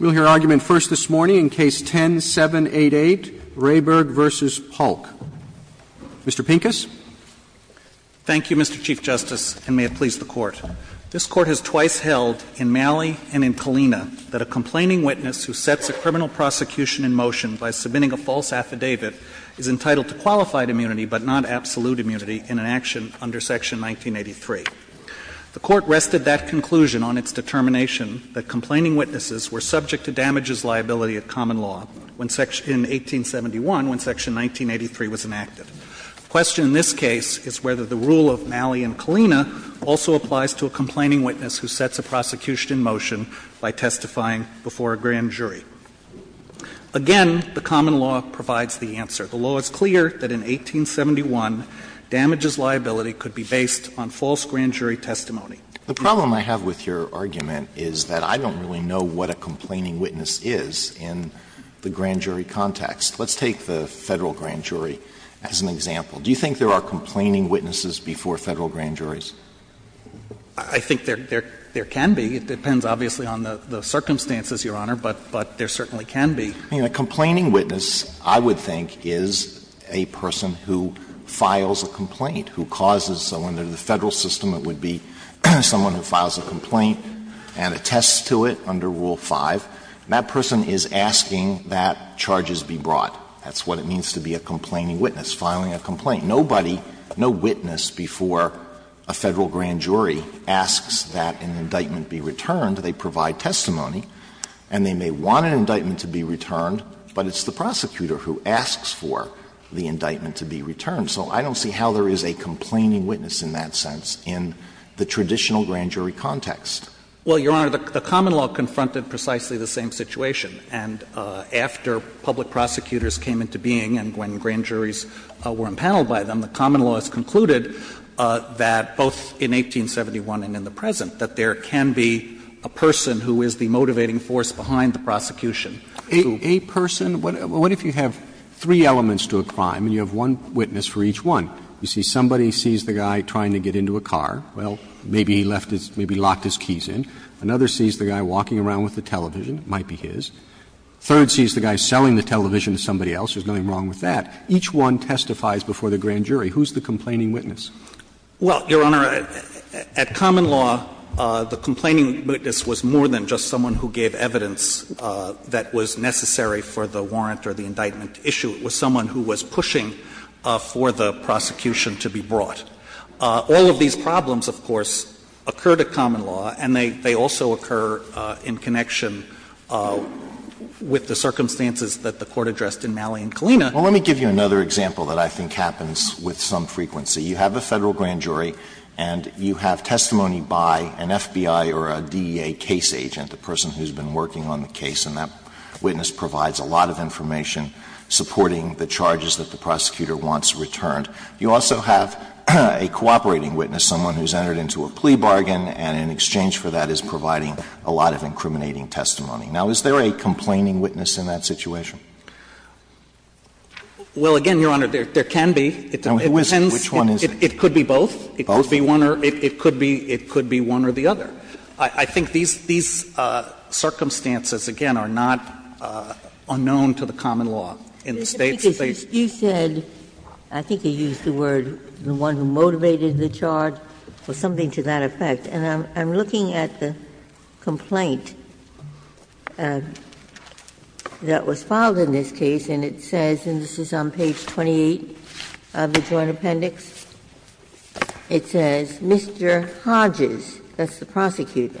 We'll hear argument first this morning in Case 10-788, Rehberg v. Paulk. Mr. Pincus. Pincus. Thank you, Mr. Chief Justice, and may it please the Court. This Court has twice held in Malley and in Kalina that a complaining witness who sets a criminal prosecution in motion by submitting a false affidavit is entitled to qualified immunity but not absolute immunity in an action under Section 1983. The Court rested that conclusion on its determination that complaining witnesses were subject to damages liability at common law in 1871 when Section 1983 was enacted. The question in this case is whether the rule of Malley and Kalina also applies to a complaining witness who sets a prosecution in motion by testifying before a grand jury. Again, the common law provides the answer. The law is clear that in 1871, damages liability could be based on false grand jury testimony. Alito The problem I have with your argument is that I don't really know what a complaining witness is in the grand jury context. Let's take the Federal grand jury as an example. Do you think there are complaining witnesses before Federal grand juries? Pincus I think there can be. It depends, obviously, on the circumstances, Your Honor, but there certainly can be. I mean, a complaining witness, I would think, is a person who files a complaint, who causes someone under the Federal system, it would be someone who files a complaint and attests to it under Rule 5. And that person is asking that charges be brought. That's what it means to be a complaining witness, filing a complaint. Nobody, no witness before a Federal grand jury asks that an indictment be returned. They provide testimony, and they may want an indictment to be returned, but it's the prosecutor who asks for the indictment to be returned. So I don't see how there is a complaining witness in that sense in the traditional grand jury context. Pincus Well, Your Honor, the common law confronted precisely the same situation. And after public prosecutors came into being and when grand juries were impaneled by them, the common law has concluded that both in 1871 and in the present that there can be a person who is the motivating force behind the prosecution. Roberts A person? What if you have three elements to a crime and you have one witness for each one? You see somebody sees the guy trying to get into a car. Well, maybe he left his – maybe locked his keys in. Another sees the guy walking around with the television. It might be his. Third sees the guy selling the television to somebody else. There's nothing wrong with that. Each one testifies before the grand jury. Who's the complaining witness? Pincus Well, Your Honor, at common law, the complaining witness was more than just someone who gave evidence that was necessary for the warrant or the indictment issue. It was someone who was pushing for the prosecution to be brought. All of these problems, of course, occur to common law, and they also occur in connection with the circumstances that the Court addressed in Malley and Kalina. Alito Well, let me give you another example that I think happens with some frequency. You have a Federal grand jury and you have testimony by an FBI or a DEA case agent, the person who's been working on the case, and that witness provides a lot of information supporting the charges that the prosecutor wants returned. You also have a cooperating witness, someone who's entered into a plea bargain and in exchange for that is providing a lot of incriminating testimony. Now, is there a complaining witness in that situation? Pincus Well, again, Your Honor, there can be. It depends. It could be both. It could be one or the other. I think these circumstances, again, are not unknown to the common law. In the States, they Ginsburg You said, I think you used the word, the one who motivated the charge, or something to that effect. And I'm looking at the complaint that was filed in this case, and it says, and this is on page 28 of the Joint Appendix, it says, Mr. Hodges, that's the prosecutor,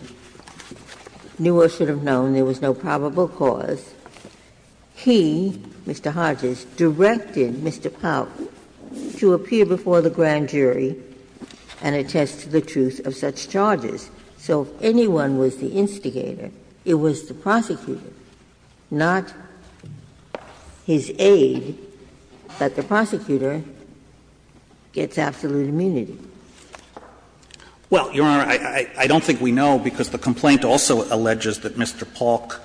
knew or should have known there was no probable cause. He, Mr. Hodges, directed Mr. Pauk to appear before the grand jury and attest to the truth of such charges. So if anyone was the instigator, it was the prosecutor, not his aide, but the prosecutor gets absolute immunity. Pincus Well, Your Honor, I don't think we know, because the complaint also alleges that Mr. Pauk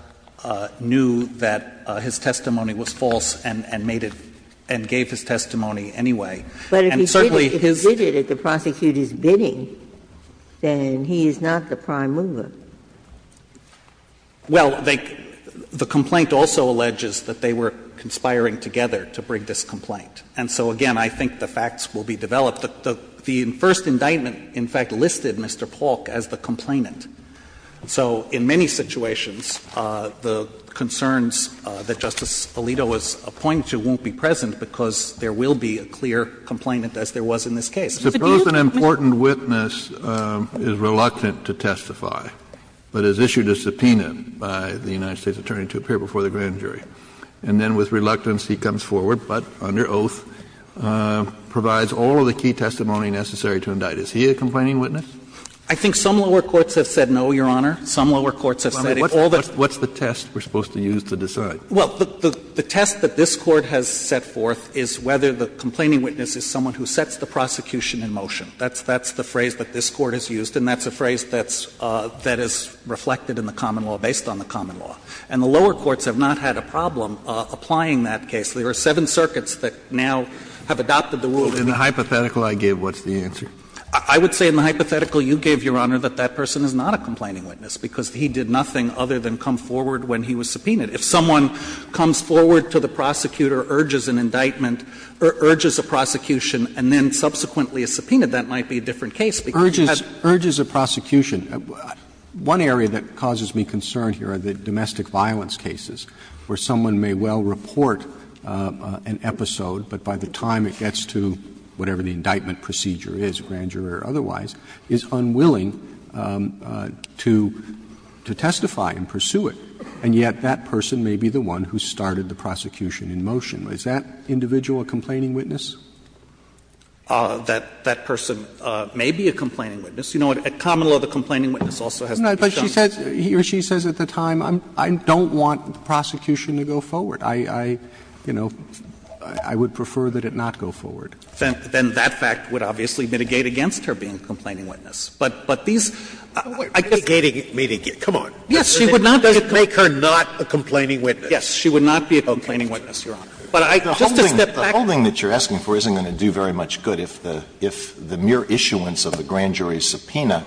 knew that his testimony was false and made it, and gave his testimony And certainly, his testimony was false. Ginsburg He's not the prime mover. Pincus Well, the complaint also alleges that they were conspiring together to bring this complaint. And so, again, I think the facts will be developed. The first indictment, in fact, listed Mr. Pauk as the complainant. So in many situations, the concerns that Justice Alito was pointing to won't be present, because there will be a clear complainant, as there was in this case. Kennedy The person important witness is reluctant to testify, but has issued a subpoena by the United States attorney to appear before the grand jury. And then with reluctance, he comes forward, but under oath, provides all of the key testimony necessary to indict. Is he a complaining witness? Pincus I think some lower courts have said no, Your Honor. Some lower courts have said if all the Kennedy What's the test we're supposed to use to decide? Pincus Well, the test that this Court has set forth is whether the complaining witness is someone who sets the prosecution in motion. That's the phrase that this Court has used, and that's a phrase that's reflected in the common law, based on the common law. And the lower courts have not had a problem applying that case. There are seven circuits that now have adopted the rule. Kennedy In the hypothetical I gave, what's the answer? Pincus I would say in the hypothetical you gave, Your Honor, that that person is not a complaining witness, because he did nothing other than come forward when he was subpoenaed. If someone comes forward to the prosecutor, urges an indictment, urges a prosecution, and then subsequently is subpoenaed, that might be a different case, because you have to have a different case. Roberts One area that causes me concern here are the domestic violence cases, where someone may well report an episode, but by the time it gets to whatever the indictment procedure is, grand jury or otherwise, is unwilling to testify and pursue it. And yet that person may be the one who started the prosecution in motion. Is that individual a complaining witness? Pincus That person may be a complaining witness. You know, a common law, the complaining witness also has to be shown. Roberts But she says at the time, I don't want the prosecution to go forward. I, you know, I would prefer that it not go forward. Pincus Then that fact would obviously mitigate against her being a complaining witness. But these, I guess. Scalia Mitigating, come on. Pincus Yes, she would not be a complaining witness. Scalia Does it make her not a complaining witness? Pincus Yes, she would not be a complaining witness, Your Honor. But I, just to step back here. Alito The holding that you're asking for isn't going to do very much good if the mere issuance of the grand jury's subpoena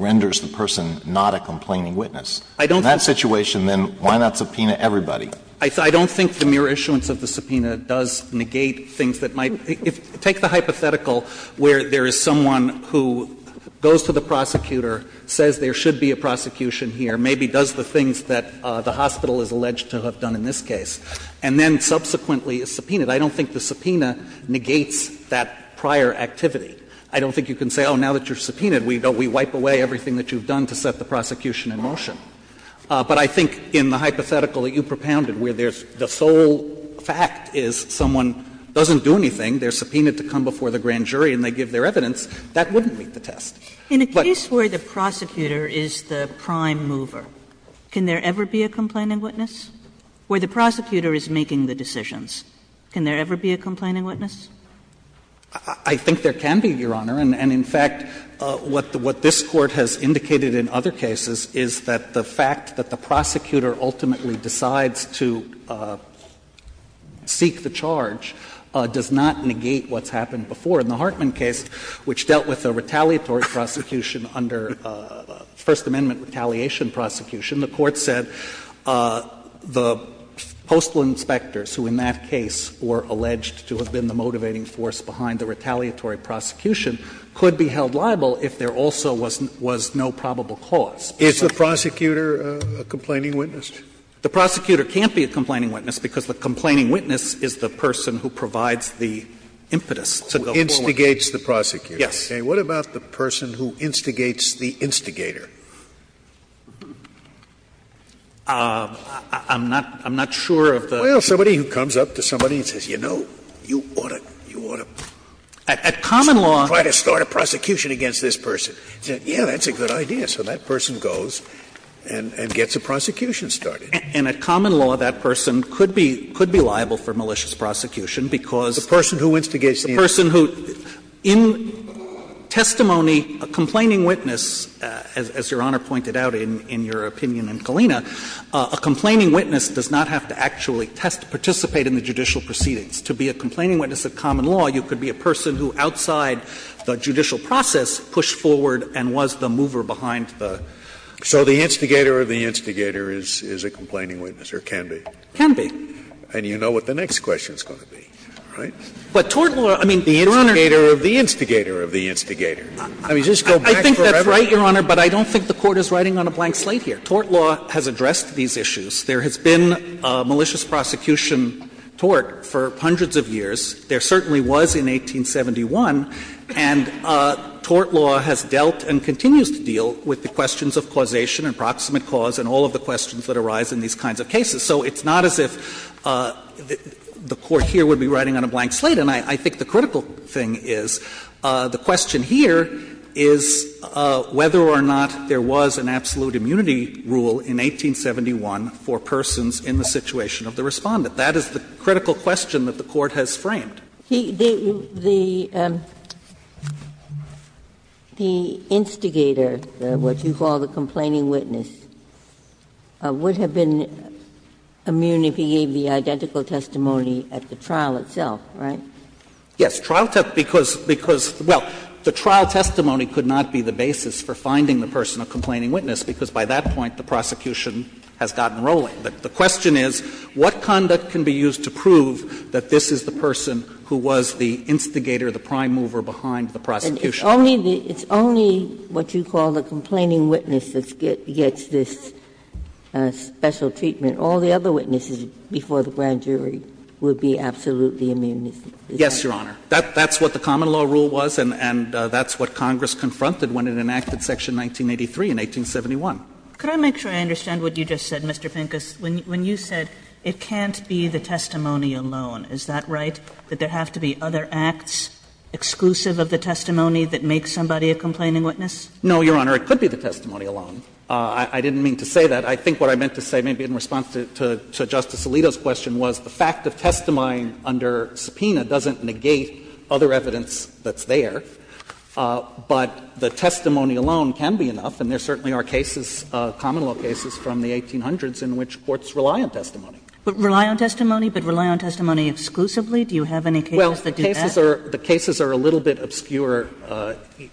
renders the person not a complaining witness. In that situation, then, why not subpoena everybody? Pincus I don't think the mere issuance of the subpoena does negate things that might take the hypothetical where there is someone who goes to the prosecutor, says there should be a prosecution here, maybe does the things that the hospital is alleged to have done in this case, and then subsequently is subpoenaed. I don't think the subpoena negates that prior activity. I don't think you can say, oh, now that you're subpoenaed, we wipe away everything that you've done to set the prosecution in motion. But I think in the hypothetical that you propounded where there's the sole fact is someone doesn't do anything, they're subpoenaed to come before the grand jury and they give their evidence, that wouldn't meet the test. But Kagan In a case where the prosecutor is the prime mover, can there ever be a complaining witness? Where the prosecutor is making the decisions, can there ever be a complaining witness? Pincus I think there can be, Your Honor. And in fact, what this Court has indicated in other cases is that the fact that the prosecutor ultimately decides to seek the charge does not negate what's happened before. In the Hartman case, which dealt with a retaliatory prosecution under First Amendment retaliation prosecution, the Court said the postal inspectors, who in that case were alleged to have been the motivating force behind the retaliatory prosecution, could be held liable if there also was no probable cause. Scalia Is the prosecutor a complaining witness? Pincus The prosecutor can't be a complaining witness, because the complaining witness is the person who provides the impetus to go forward. Scalia Who instigates the prosecutor. Pincus Yes. Scalia What about the person who instigates the instigator? Pincus I'm not sure of the ---- Scalia Well, somebody who comes up to somebody and says, you know, you ought to, you ought to, try to start a prosecution against this person. Pincus At common law ---- Scalia Yeah, that's a good idea. So that person goes and gets a prosecution started. Pincus And at common law, that person could be liable for malicious prosecution, because ---- Scalia The person who instigates the instigator. Pincus The person who ---- in testimony, a complaining witness, as Your Honor pointed out in your opinion in Kalina, a complaining witness does not have to actually participate in the judicial proceedings. To be a complaining witness at common law, you could be a person who outside the judicial process pushed forward and was the mover behind the ---- Scalia So the instigator of the instigator is a complaining witness, or can be? Pincus Can be. Scalia And you know what the next question is going to be, right? Pincus But tort law, I mean, Your Honor ---- Scalia The instigator of the instigator of the instigator. I mean, just go back forever. Pincus I think that's right, Your Honor, but I don't think the Court is writing on a blank slate here. Tort law has addressed these issues. There has been a malicious prosecution tort for hundreds of years. There certainly was in 1871. And tort law has dealt and continues to deal with the questions of causation and proximate cause and all of the questions that arise in these kinds of cases. So it's not as if the Court here would be writing on a blank slate. And I think the critical thing is, the question here is whether or not there was an absolute immunity rule in 1871 for persons in the situation of the Respondent. That is the critical question that the Court has framed. Ginsburg The instigator, what you call the complaining witness, would have been immune if he gave the identical testimony at the trial itself, right? Pincus Yes. Trial testimony, because, well, the trial testimony could not be the basis for finding the person a complaining witness, because by that point the prosecution has gotten rolling. The question is, what conduct can be used to prove that this is the person who was the instigator, the prime mover behind the prosecution? Ginsburg It's only what you call the complaining witness that gets this special treatment. All the other witnesses before the grand jury would be absolutely immune. Pincus Yes, Your Honor. That's what the common law rule was, and that's what Congress confronted when it enacted Section 1983 in 1871. Kagan Could I make sure I understand what you just said, Mr. Pincus? When you said it can't be the testimony alone, is that right, that there have to be other acts exclusive of the testimony that make somebody a complaining witness? Pincus No, Your Honor. It could be the testimony alone. I didn't mean to say that. I think what I meant to say, maybe in response to Justice Alito's question, was the fact of testifying under subpoena doesn't negate other evidence that's there, but the testimony alone can be enough, and there certainly are cases, common law cases, from the 1800s in which courts rely on testimony. Kagan But rely on testimony, but rely on testimony exclusively? Do you have any cases that do that? Pincus Well, the cases are a little bit obscure,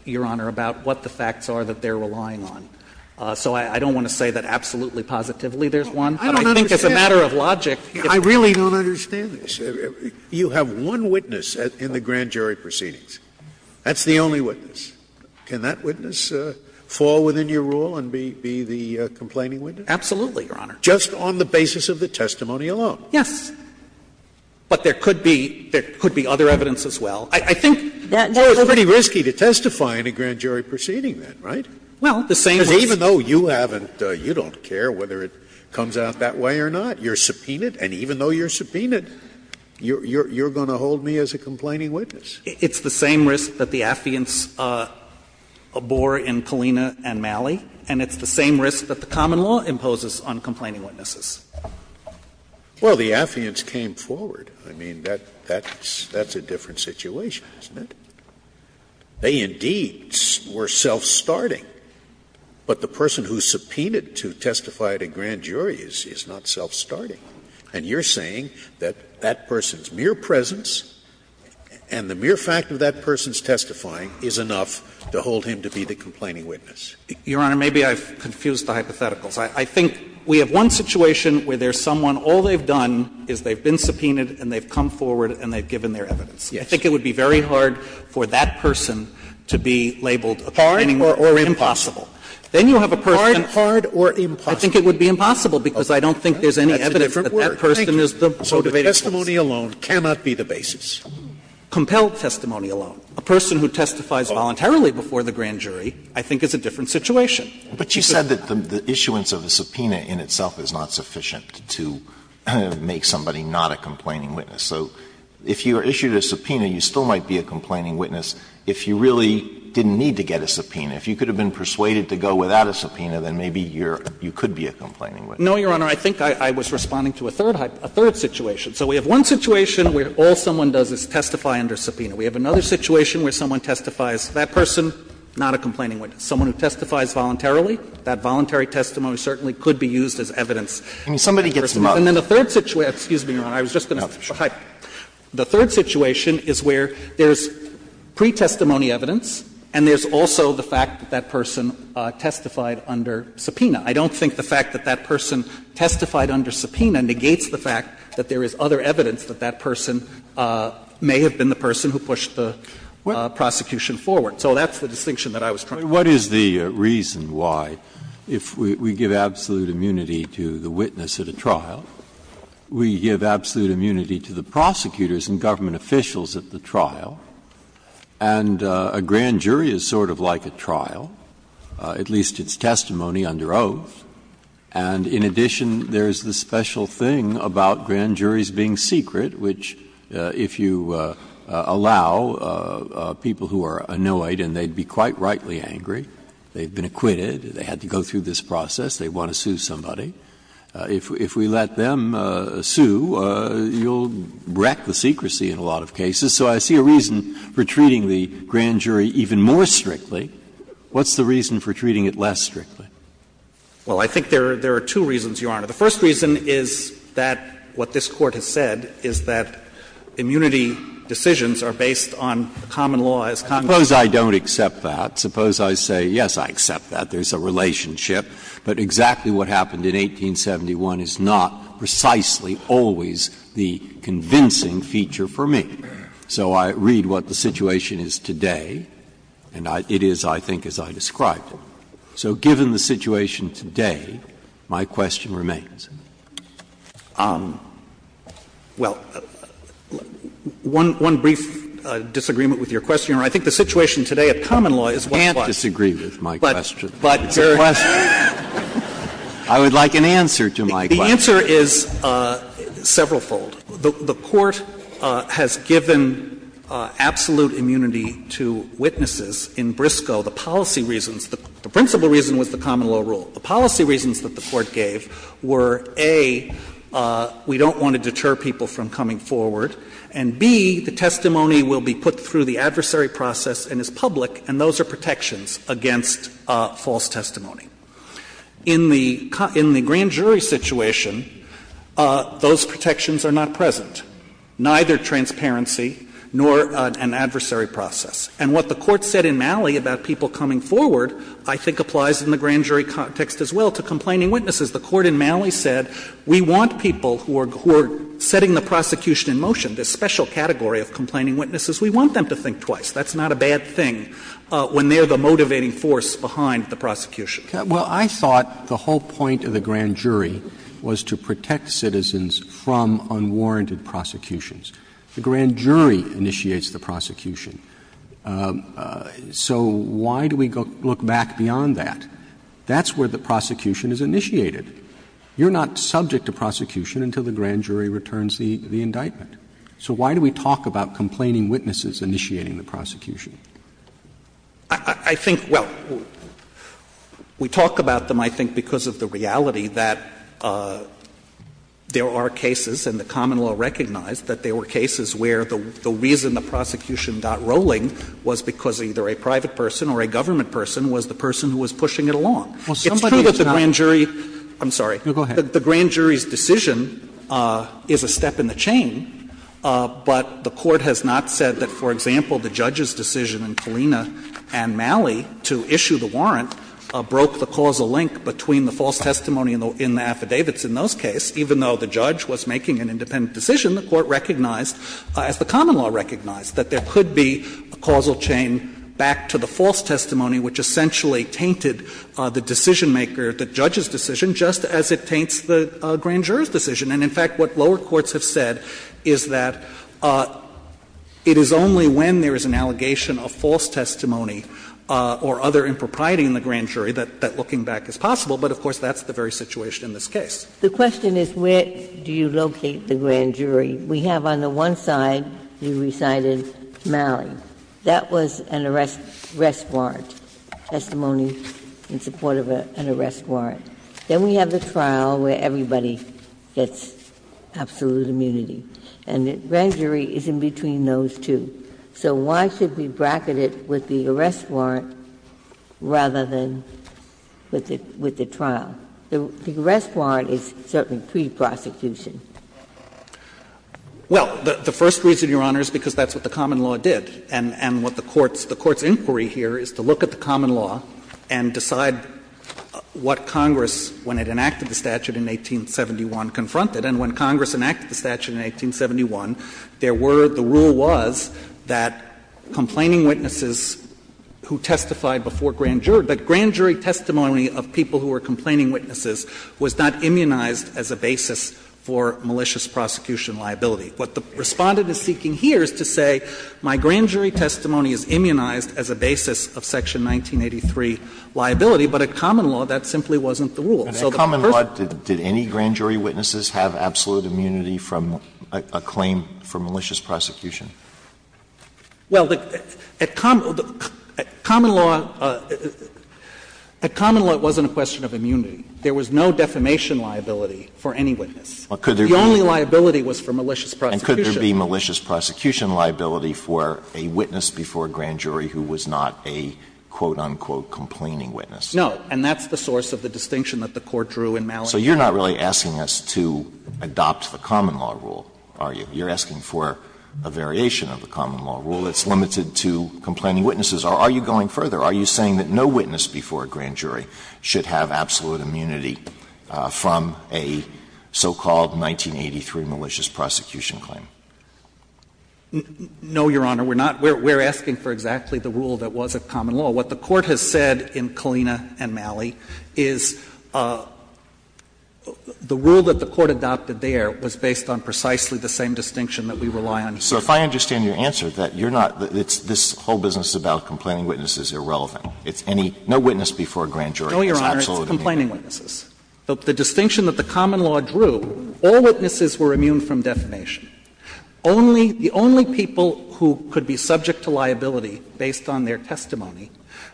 Your Honor, about what the facts are that they're relying on. So I don't want to say that absolutely positively there's one, but I think as a matter of logic, if there's one. Scalia I really don't understand this. You have one witness in the grand jury proceedings. That's the only witness. Can that witness fall within your rule and be the complaining witness? Pincus Absolutely, Your Honor. Scalia Just on the basis of the testimony alone? Pincus Yes. But there could be other evidence as well. I think that's pretty risky to testify in a grand jury proceeding then, right? Because even though you haven't, you don't care whether it comes out that way or not. You're subpoenaed, and even though you're subpoenaed, you're going to hold me as a complaining witness. It's the same risk that the affiance bore in Kalina and Malley, and it's the same risk that the common law imposes on complaining witnesses. Scalia Well, the affiance came forward. I mean, that's a different situation, isn't it? They indeed were self-starting, but the person who subpoenaed to testify at a grand jury is not self-starting. And you're saying that that person's mere presence and the mere fact of that person's testifying is enough to hold him to be the complaining witness. Pincus Your Honor, maybe I've confused the hypotheticals. I think we have one situation where there's someone, all they've done is they've been subpoenaed and they've come forward and they've given their evidence. I think it would be very hard for that person to be labeled a complaining witness. Scalia Hard or impossible? Pincus Then you have a person who's hard or impossible. I think it would be impossible because I don't think there's any evidence that that person is the motivated case. Scalia So the testimony alone cannot be the basis. Pincus Compelled testimony alone. A person who testifies voluntarily before the grand jury, I think, is a different situation. Alito But you said that the issuance of a subpoena in itself is not sufficient to make somebody not a complaining witness. So if you are issued a subpoena, you still might be a complaining witness if you really didn't need to get a subpoena. If you could have been persuaded to go without a subpoena, then maybe you're you could be a complaining witness. Pincus No, Your Honor. I think I was responding to a third, a third situation. So we have one situation where all someone does is testify under subpoena. We have another situation where someone testifies, that person, not a complaining witness. Someone who testifies voluntarily, that voluntary testimony certainly could be used as evidence. And then the third situation, excuse me, Your Honor, I was just going to say, the third situation is where there's pre-testimony evidence and there's also the fact that that person testified under subpoena. I don't think the fact that that person testified under subpoena negates the fact that there is other evidence that that person may have been the person who pushed the prosecution forward. So that's the distinction that I was trying to make. Breyer What is the reason why, if we give absolute immunity to the witness at a trial, we give absolute immunity to the prosecutors and government officials at the trial, and a grand jury is sort of like a trial, at least its testimony under oath, and in addition, there's the special thing about grand juries being secret, which if you allow people who are annoyed, and they'd be quite rightly angry, they've been acquitted, they had to go through this process, they want to sue somebody. If we let them sue, you'll wreck the secrecy in a lot of cases. So I see a reason for treating the grand jury even more strictly. What's the reason for treating it less strictly? Goldstein Well, I think there are two reasons, Your Honor. The first reason is that what this Court has said is that immunity decisions are based on common law as Congress does. Breyer Suppose I don't accept that. Suppose I say, yes, I accept that, there's a relationship, but exactly what happened in 1871 is not precisely always the convincing feature for me. So I read what the situation is today, and it is, I think, as I described it. So given the situation today, my question remains. Goldstein Well, one brief disagreement with your question, Your Honor. I think the situation today at common law is what was. Breyer I can't disagree with my question. But your question. I would like an answer to my question. Goldstein The answer is severalfold. The Court has given absolute immunity to witnesses in Briscoe. The policy reasons, the principal reason was the common law rule. The policy reasons that the Court gave were, A, we don't want to deter people from coming forward, and, B, the testimony will be put through the adversary process and is public, and those are protections against false testimony. In the grand jury situation, those protections are not present, neither transparency nor an adversary process. And what the Court said in Malley about people coming forward, I think, applies in the grand jury context as well to complaining witnesses. The Court in Malley said, we want people who are setting the prosecution in motion, this special category of complaining witnesses, we want them to think twice. That's not a bad thing when they're the motivating force behind the prosecution. Roberts Well, I thought the whole point of the grand jury was to protect citizens from unwarranted prosecutions. The grand jury initiates the prosecution. So why do we look back beyond that? That's where the prosecution is initiated. You're not subject to prosecution until the grand jury returns the indictment. So why do we talk about complaining witnesses initiating the prosecution? Verrilli, I think, well, we talk about them, I think, because of the reality that there are cases, and the common law recognized, that there were cases where the reason the prosecution got rolling was because either a private person or a government person was the person who was pushing it along. It's true that the grand jury's decision is a step in the chain, but it's not the common law's decision. But the Court has not said that, for example, the judge's decision in Colina v. Malley to issue the warrant broke the causal link between the false testimony in the affidavits in those cases. Even though the judge was making an independent decision, the Court recognized as the common law recognized, that there could be a causal chain back to the false testimony, which essentially tainted the decisionmaker, the judge's decision, just as it taints the grand juror's decision. And in fact, what lower courts have said is that it is only when there is an allegation of false testimony or other impropriety in the grand jury that looking back is possible, but of course, that's the very situation in this case. Ginsburg. The question is where do you locate the grand jury? We have on the one side, you recited Malley. That was an arrest warrant, testimony in support of an arrest warrant. Then we have the trial where everybody gets absolute immunity. And the grand jury is in between those two. So why should we bracket it with the arrest warrant rather than with the trial? The arrest warrant is certainly pre-prosecution. Well, the first reason, Your Honor, is because that's what the common law did. And what the Court's inquiry here is to look at the common law and decide what Congress when it enacted the statute in 1871 confronted. And when Congress enacted the statute in 1871, there were the rule was that complaining witnesses who testified before grand jurors, that grand jury testimony of people who were complaining witnesses was not immunized as a basis for malicious prosecution liability. What the Respondent is seeking here is to say my grand jury testimony is immunized as a basis of Section 1983 liability, but at common law, that simply wasn't the rule. So the first thing that the common law did, did any grand jury witnesses have absolute immunity from a claim for malicious prosecution? Well, at common law, at common law, it wasn't a question of immunity. There was no defamation liability for any witness. The only liability was for malicious prosecution. Alitoson could there be malicious prosecution liability for a witness before a grand jury who was not a, quote, unquote, complaining witness? No. And that's the source of the distinction that the Court drew in Malik. So you're not really asking us to adopt the common law rule, are you? You're asking for a variation of the common law rule that's limited to complaining witnesses. Or are you going further? Are you saying that no witness before a grand jury should have absolute immunity from a so-called 1983 malicious prosecution claim? No, Your Honor. We're not. We're asking for exactly the rule that was at common law. What the Court has said in Kalina and Malley is the rule that the Court adopted there was based on precisely the same distinction that we rely on here. So if I understand your answer, that you're not — this whole business about complaining witnesses is irrelevant. It's any — no witness before a grand jury has absolute immunity. The distinction that the common law drew, all witnesses were immune from defamation. Only — the only people who could be subject to liability based on their testimony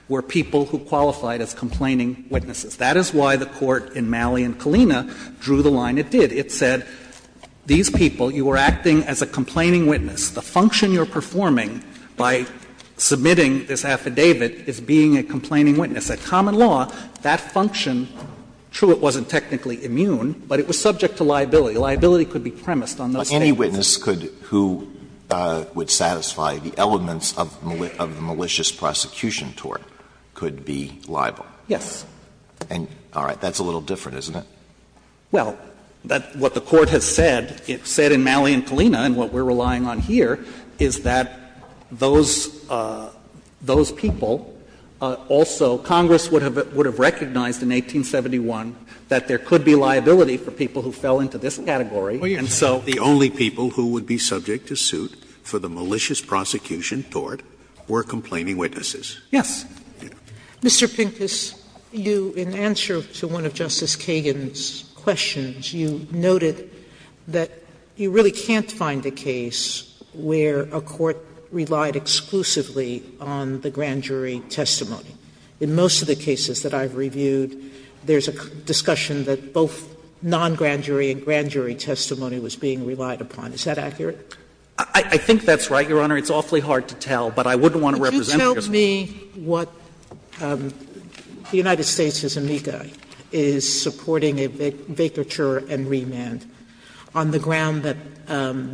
were people who qualified as complaining witnesses. That is why the Court in Malley and Kalina drew the line it did. It said, these people, you are acting as a complaining witness. The function you're performing by submitting this affidavit is being a complaining witness. At common law, that function, true, it wasn't technically immune, but it was subject to liability. Liability could be premised on those statements. But any witness could — who would satisfy the elements of the malicious prosecution tort could be liable? Yes. And all right. That's a little different, isn't it? Well, what the Court has said, it said in Malley and Kalina, and what we're relying on here, is that those people also — Congress would have recognized in 1871 that there could be liability for people who fell into this category, and so— The only people who would be subject to suit for the malicious prosecution tort were complaining witnesses. Yes. Mr. Pincus, you, in answer to one of Justice Kagan's questions, you noted that you really can't find a case where a court relied exclusively on the grand jury testimony. In most of the cases that I've reviewed, there's a discussion that both non-grand jury and grand jury testimony was being relied upon. Is that accurate? I think that's right, Your Honor. It's awfully hard to tell, but I wouldn't want to represent— Could you tell me what the United States' amica is supporting a vacature and remand on the ground that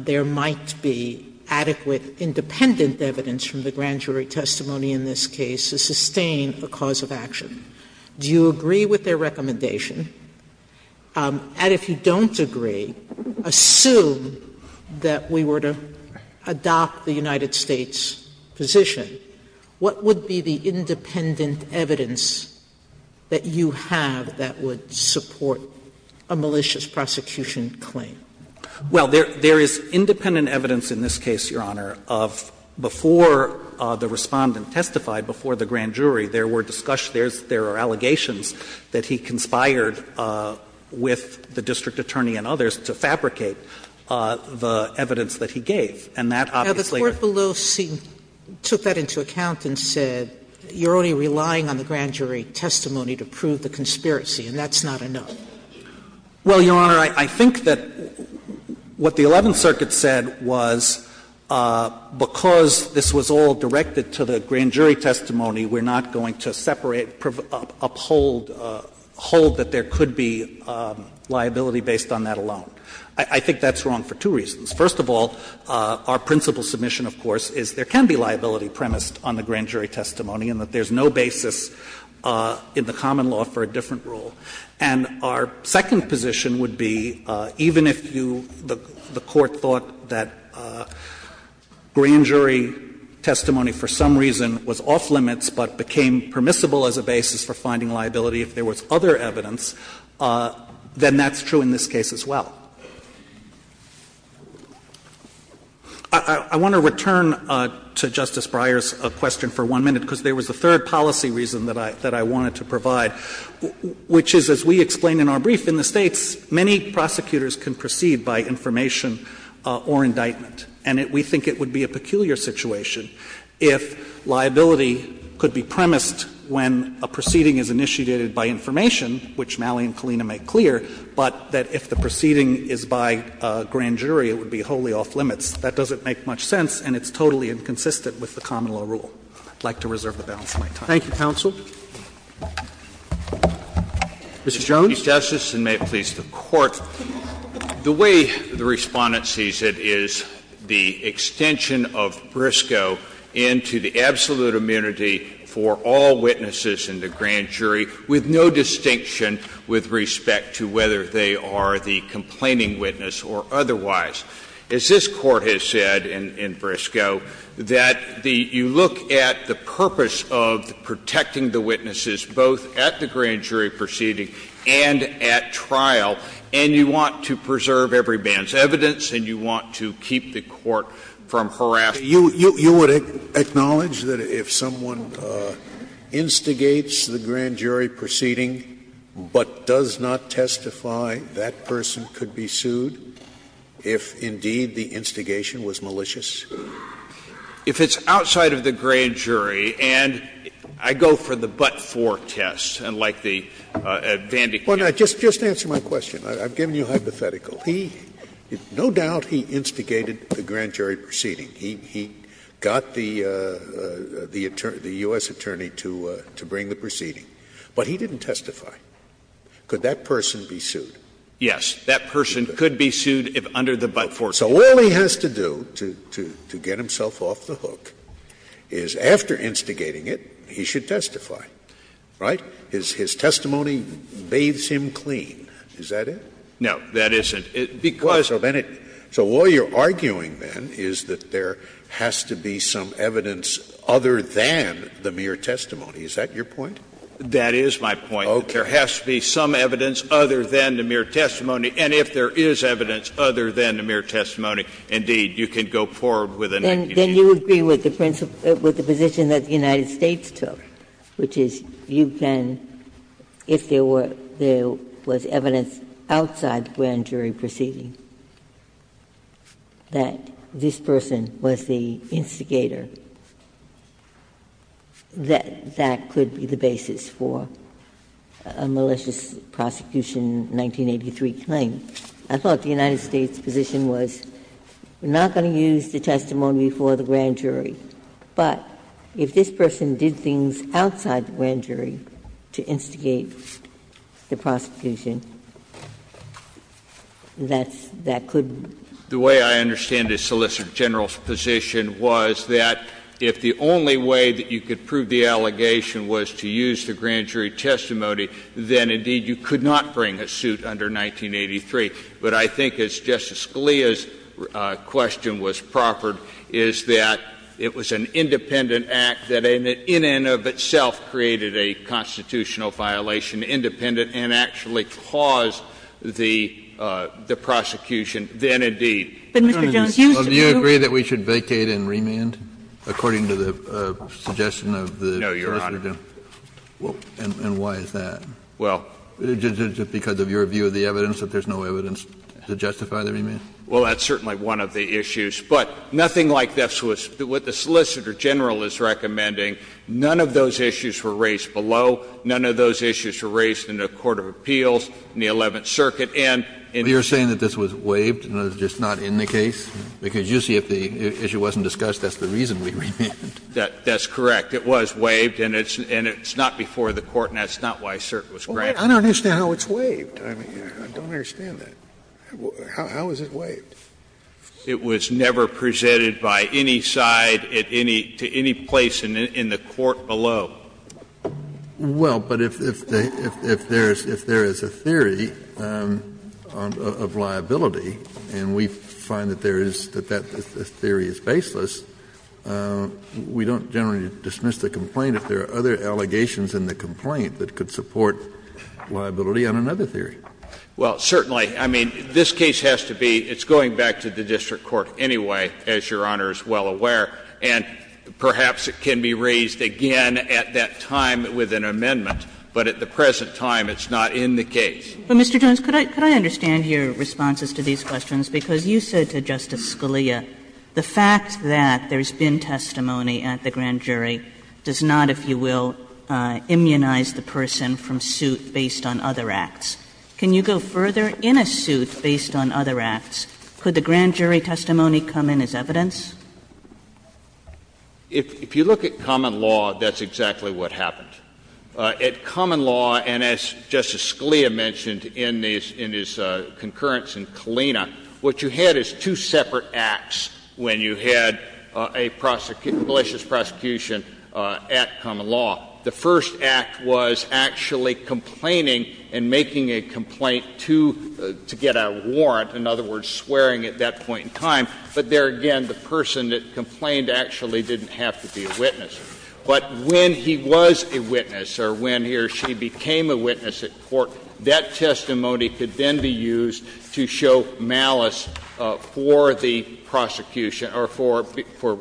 there might be adequate independent evidence from the grand jury testimony in this case to sustain a cause of action? Do you agree with their recommendation? And if you don't agree, assume that we were to adopt the United States' position, what would be the independent evidence that you have that would support a malicious prosecution claim? Well, there is independent evidence in this case, Your Honor, of before the Respondent testified, before the grand jury, there were discussions, there are allegations that he conspired with the district attorney and others to fabricate the evidence that he gave. And that obviously— Now, the court below took that into account and said, you're only relying on the grand jury testimony to prove the conspiracy, and that's not enough. Well, Your Honor, I think that what the Eleventh Circuit said was because this was all directed to the grand jury testimony, we're not going to separate, uphold that there could be liability based on that alone. I think that's wrong for two reasons. First of all, our principal submission, of course, is there can be liability premised on the grand jury testimony and that there's no basis in the common law for a different rule. And our second position would be, even if you, the Court thought that grand jury testimony for some reason was off limits but became permissible as a basis for finding liability if there was other evidence, then that's true in this case as well. I want to return to Justice Breyer's question for one minute, because there was a third policy reason that I wanted to provide, which is, as we explained in our brief, in the States, many prosecutors can proceed by information or indictment. And we think it would be a peculiar situation if liability could be premised when a proceeding is initiated by information, which Malley and Kalina make clear, but that if the proceeding is by grand jury, it would be wholly off limits. That doesn't make much sense, and it's totally inconsistent with the common law rule. I'd like to reserve the balance of my time. Roberts, Thank you, counsel. Mr. Jones. Jones, Mr. Chief Justice, and may it please the Court. The way the Respondent sees it is the extension of Briscoe into the absolute immunity for all witnesses in the grand jury with no distinction with respect to whether they are the complaining witness or otherwise. As this Court has said in Briscoe, that the you look at the purpose of protecting the witnesses both at the grand jury proceeding and at trial, and you want to preserve every man's evidence, and you want to keep the Court from harassing them. Scalia, you would acknowledge that if someone instigates the grand jury proceeding but does not testify, that person could be sued if, indeed, the instigation was malicious? If it's outside of the grand jury, and I go for the but-for test, and like the Vandy case. Well, now, just answer my question. I've given you a hypothetical. He, no doubt, he instigated the grand jury proceeding. He got the U.S. attorney to bring the proceeding, but he didn't testify. Could that person be sued? Yes. That person could be sued if under the but-for test. So all he has to do to get himself off the hook is, after instigating it, he should testify, right? His testimony bathes him clean. Is that it? No, that isn't. Because of anything. So all you're arguing, then, is that there has to be some evidence other than the mere testimony. Is that your point? That is my point. There has to be some evidence other than the mere testimony. And if there is evidence other than the mere testimony, indeed, you can go forward with an accusation. Then you agree with the principle of the position that the United States took, which is you can, if there was evidence outside the grand jury proceeding, that this person was the instigator, that that could be the basis for the grand jury proceeding. But if this person did things outside the grand jury to instigate the prosecution, that could be the basis for the grand jury proceeding. The way I understand it, Solicitor General's position was that if the only way that you could prove the allegation was to use the grand jury testimony, then you would not bring a suit under 1983. But I think, as Justice Scalia's question was proffered, is that it was an independent act that, in and of itself, created a constitutional violation, independent and actually caused the prosecution, then, indeed. But, Mr. Jones, you used to be a lawyer. Kennedy, do you agree that we should vacate and remand, according to the suggestion of the prosecutor? No, Your Honor. And why is that? Well, just because of your view of the evidence, that there's no evidence to justify the remand? Well, that's certainly one of the issues. But nothing like this was what the Solicitor General is recommending. None of those issues were raised below. None of those issues were raised in the court of appeals, in the Eleventh Circuit, and in the case of the Grand Jury Proceeding. But you're saying that this was waived and it's just not in the case? Because you see if the issue wasn't discussed, that's the reason we remanded. That's correct. It was waived, and it's not before the Court, and that's not why cert was granted. I don't understand how it's waived. I don't understand that. How is it waived? It was never presented by any side at any to any place in the court below. Well, but if there is a theory of liability, and we find that there is, that that theory is baseless, we don't generally dismiss the complaint if there are other allegations in the complaint that could support liability on another theory. Well, certainly. I mean, this case has to be going back to the district court anyway, as Your Honor is well aware, and perhaps it can be raised again at that time with an amendment. But at the present time, it's not in the case. But, Mr. Jones, could I understand your responses to these questions? Because you said to Justice Scalia, the fact that there's been testimony at the grand jury does not, if you will, immunize the person from suit based on other acts. Can you go further? In a suit based on other acts, could the grand jury testimony come in as evidence? If you look at common law, that's exactly what happened. At common law, and as Justice Scalia mentioned in his concurrence in Kalina, what you had is two separate acts when you had a malicious prosecution at common law. The first act was actually complaining and making a complaint to get a warrant, in other words, swearing at that point in time. But there again, the person that complained actually didn't have to be a witness. But when he was a witness or when he or she became a witness at court, that testimony could then be used to show malice for the prosecution or for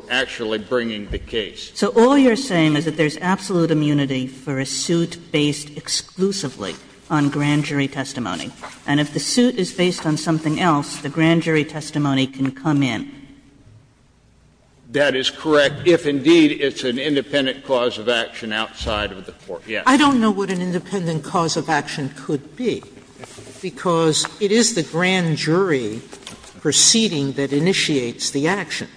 actually bringing the case. So all you're saying is that there's absolute immunity for a suit based exclusively on grand jury testimony. And if the suit is based on something else, the grand jury testimony can come in. That is correct. But if, indeed, it's an independent cause of action outside of the court, yes. Sotomayor, I don't know what an independent cause of action could be, because it is the grand jury proceeding that initiates the action.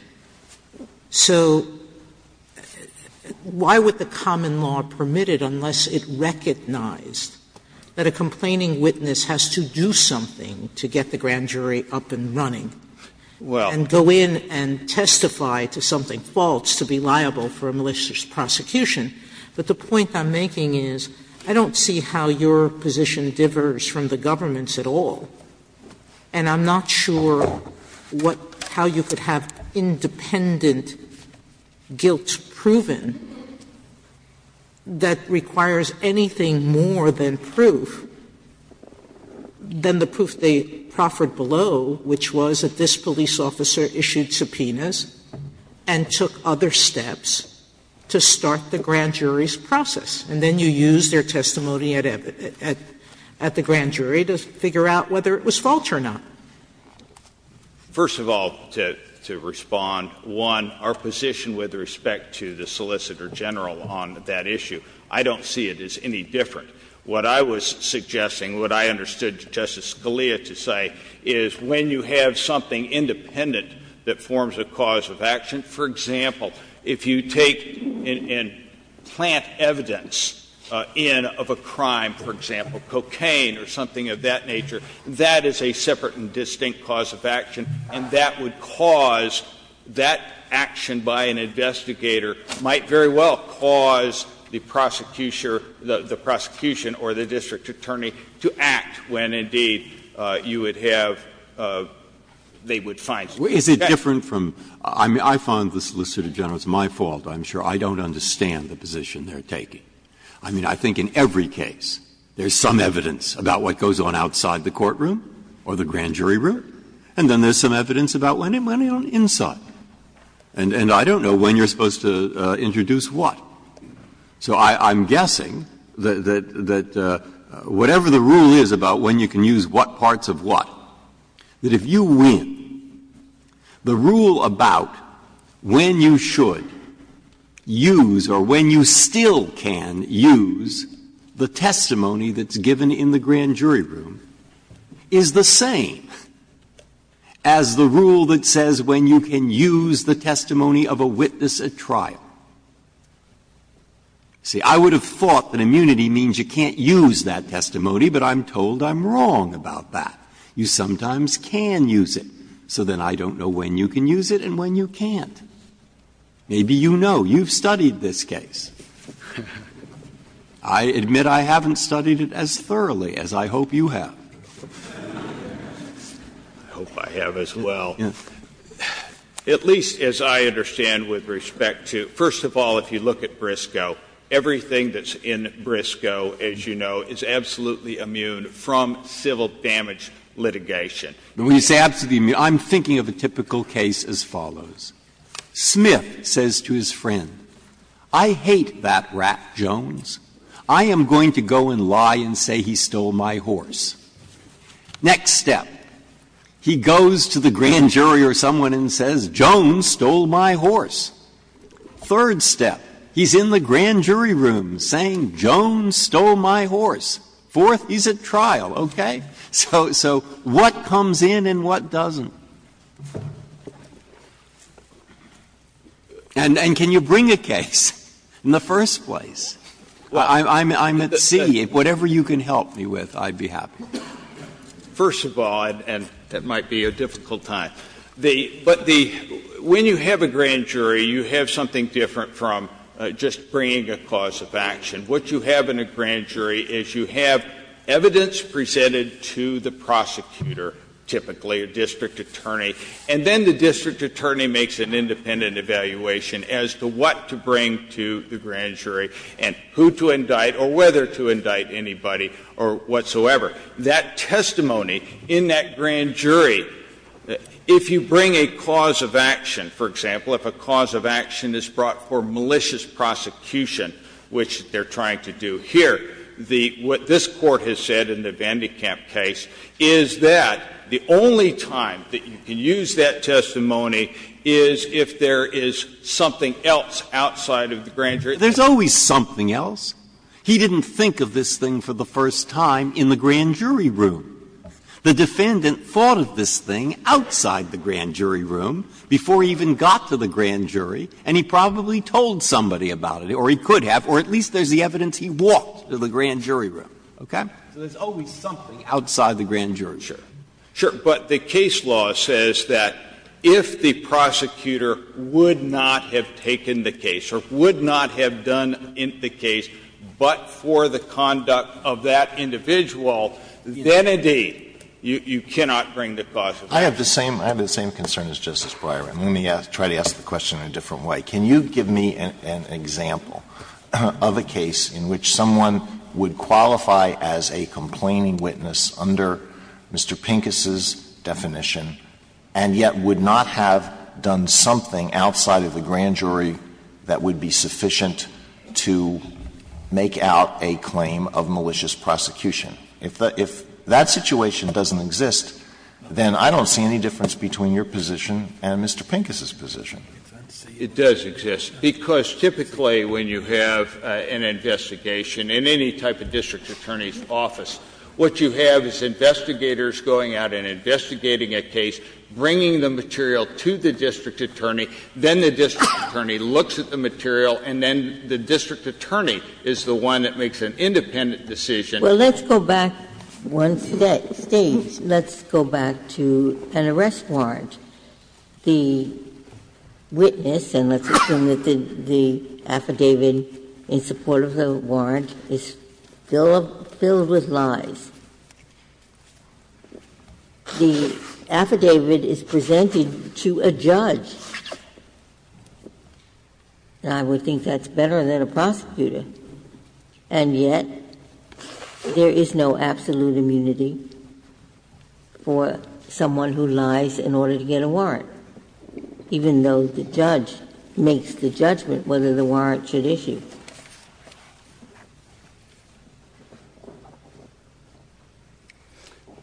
So why would the common law permit it unless it recognized that a complaining witness has to do something to get the grand jury up and running and go in and testify to something false to be liable for a malicious prosecution? But the point I'm making is I don't see how your position differs from the government's at all, and I'm not sure what how you could have independent guilt proven that requires anything more than proof, than the proof they proffered below, which was that this and took other steps to start the grand jury's process. And then you use their testimony at the grand jury to figure out whether it was false or not. First of all, to respond, one, our position with respect to the Solicitor General on that issue, I don't see it as any different. What I was suggesting, what I understood Justice Scalia to say, is when you have something independent that forms a cause of action, for example, if you take and plant evidence in of a crime, for example, cocaine or something of that nature, that is a separate and distinct cause of action, and that would cause that action by an investigator might very well cause the prosecution or the district attorney to act when, indeed, you would have, they would find it. Breyer. Is it different from the Solicitor General's, it's my fault, I'm sure, I don't understand the position they are taking. I mean, I think in every case there is some evidence about what goes on outside the courtroom or the grand jury room, and then there is some evidence about what went on inside, and I don't know when you are supposed to introduce what. So I'm guessing that whatever the rule is about when you can use what parts of what, that if you win, the rule about when you should use or when you still can use the testimony that's given in the grand jury room is the same as the rule that says when you can use the testimony of a witness at trial. See, I would have thought that immunity means you can't use that testimony, but I'm told I'm wrong about that. You sometimes can use it. So then I don't know when you can use it and when you can't. Maybe you know. You've studied this case. I admit I haven't studied it as thoroughly as I hope you have. I hope I have as well. At least as I understand with respect to, first of all, if you look at Briscoe, everything that's in Briscoe, as you know, is absolutely immune from civil damage litigation. Breyer. When you say absolutely immune, I'm thinking of a typical case as follows. Smith says to his friend, I hate that rat, Jones. I am going to go and lie and say he stole my horse. Next step, he goes to the grand jury or someone and says, Jones stole my horse. Third step, he's in the grand jury room saying, Jones stole my horse. Fourth, he's at trial. Okay? So what comes in and what doesn't? And can you bring a case in the first place? I'm at sea. Whatever you can help me with, I'd be happy. First of all, and that might be a difficult time, but the — when you have a grand jury, you have something different from just bringing a cause of action. What you have in a grand jury is you have evidence presented to the prosecutor, typically, a district attorney, and then the district attorney makes an independent evaluation as to what to bring to the grand jury and who to indict or whether to indict anybody or whatsoever. That testimony in that grand jury, if you bring a cause of action, for example, if a cause of action is brought for malicious prosecution, which they're trying to do here, the — what this Court has said in the Vandekamp case is that the only time that you can use that testimony is if there is something else outside of the grand jury. There's always something else. He didn't think of this thing for the first time in the grand jury room. The defendant thought of this thing outside the grand jury room before he even got to the grand jury, and he probably told somebody about it, or he could have, or at least there's the evidence he walked to the grand jury room, okay? So there's always something outside the grand jury. Sure. Sure. But the case law says that if the prosecutor would not have taken the case, or would not have done the case, but for the conduct of that individual, then, indeed, you cannot bring the cause of action. Alito, I have the same concern as Justice Breyer, and let me try to ask the question in a different way. Can you give me an example of a case in which someone would qualify as a complaining witness under Mr. Pincus's definition, and yet would not have done something outside of the grand jury that would be sufficient to make out a claim of malicious prosecution? If that situation doesn't exist, then I don't see any difference between your position and Mr. Pincus's position. It does exist, because typically when you have an investigation in any type of district attorney's office, what you have is investigators going out and investigating a case, bringing the material to the district attorney, then the district attorney looks at the material, and then the district attorney is the one that makes an independent decision. Well, let's go back one stage. Let's go back to an arrest warrant. The witness, and let's assume that the affidavit in support of the warrant, is filled with lies. The affidavit is presented to a judge, and I would think that's better than a prosecutor. And yet, there is no absolute immunity for someone who lies in order to get a warrant, even though the judge makes the judgment whether the warrant should issue.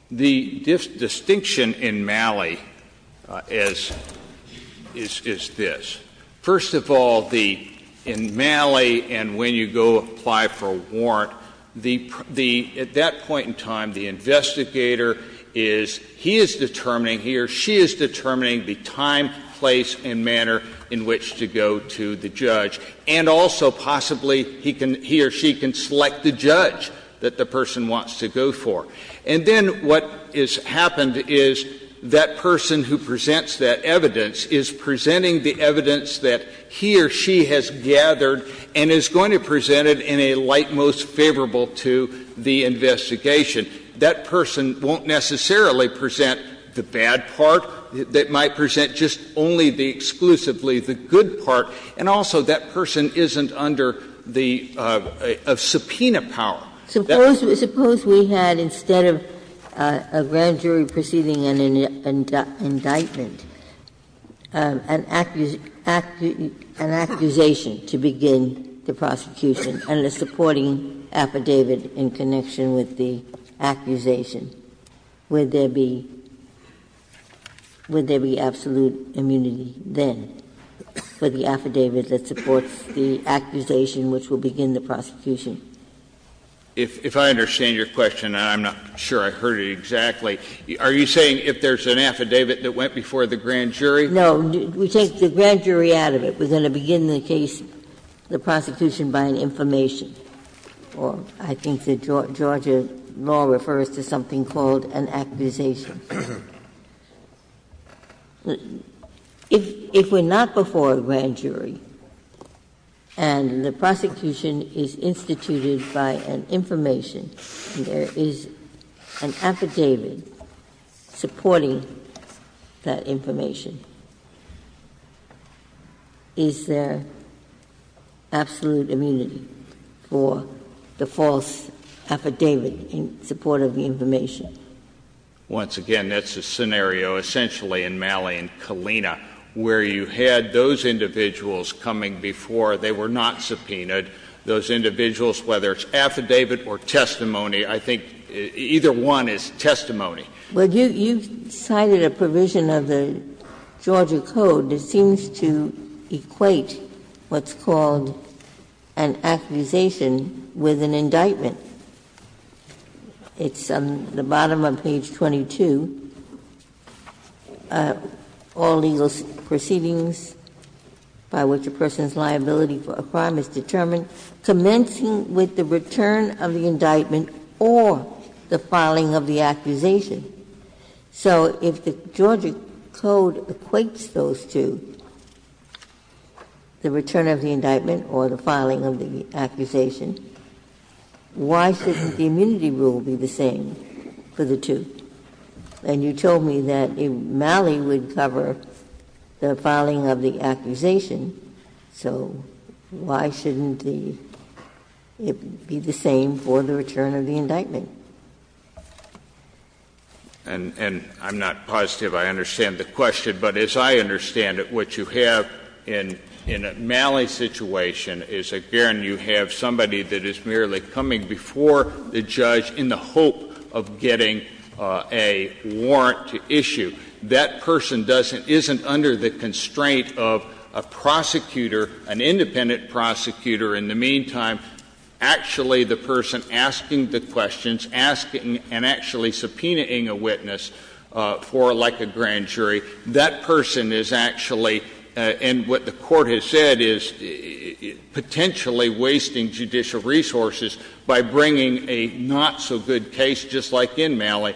The distinction in Malley is this. First of all, in Malley, and when you go apply for a warrant, at that point in time, the investigator is, he is determining here, she is determining the time, place, and manner in which to go to the judge. And also, possibly, he can, he or she can select the judge that the person wants to go for. And then what has happened is that person who presents that evidence is presenting the evidence that he or she has gathered and is going to present it in a light most favorable to the investigation. That person won't necessarily present the bad part. They might present just only the exclusively the good part. And also, that person isn't under the subpoena power. Suppose we had, instead of a grand jury proceeding an indictment, an accusation to begin the prosecution and a supporting affidavit in connection with the accusation. Would there be, would there be absolute immunity then for the affidavit that supports the accusation which will begin the prosecution? If I understand your question, and I'm not sure I heard it exactly, are you saying if there's an affidavit that went before the grand jury? No. We take the grand jury out of it. We're going to begin the case, the prosecution, by an information. Or I think the Georgia law refers to something called an accusation. If we're not before the grand jury and the prosecution is instituted by an information and there is an affidavit supporting that information, is there absolute immunity for the false affidavit in support of the information? Once again, that's a scenario essentially in Malley and Kalina, where you had those individuals coming before, they were not subpoenaed, those individuals, whether it's affidavit or testimony, I think either one is testimony. Well, you cited a provision of the Georgia Code that seems to equate what's called an accusation with an indictment. It's on the bottom of page 22. All legal proceedings by which a person's liability for a crime is determined by commencing with the return of the indictment or the filing of the accusation. So if the Georgia Code equates those two, the return of the indictment or the filing of the accusation, why shouldn't the immunity rule be the same for the two? And you told me that Malley would cover the filing of the accusation, so why shouldn't the immunity be the same for the return of the indictment? And I'm not positive I understand the question, but as I understand it, what you have in a Malley situation is, again, you have somebody that is merely coming before the judge in the hope of getting a warrant to issue. That person doesn't — isn't under the constraint of a prosecutor, an independent prosecutor. In the meantime, actually the person asking the questions, asking and actually subpoenaing a witness for, like, a grand jury, that person is actually — and what the Court has said is potentially wasting judicial resources by bringing a not-so-good case, just like in Malley,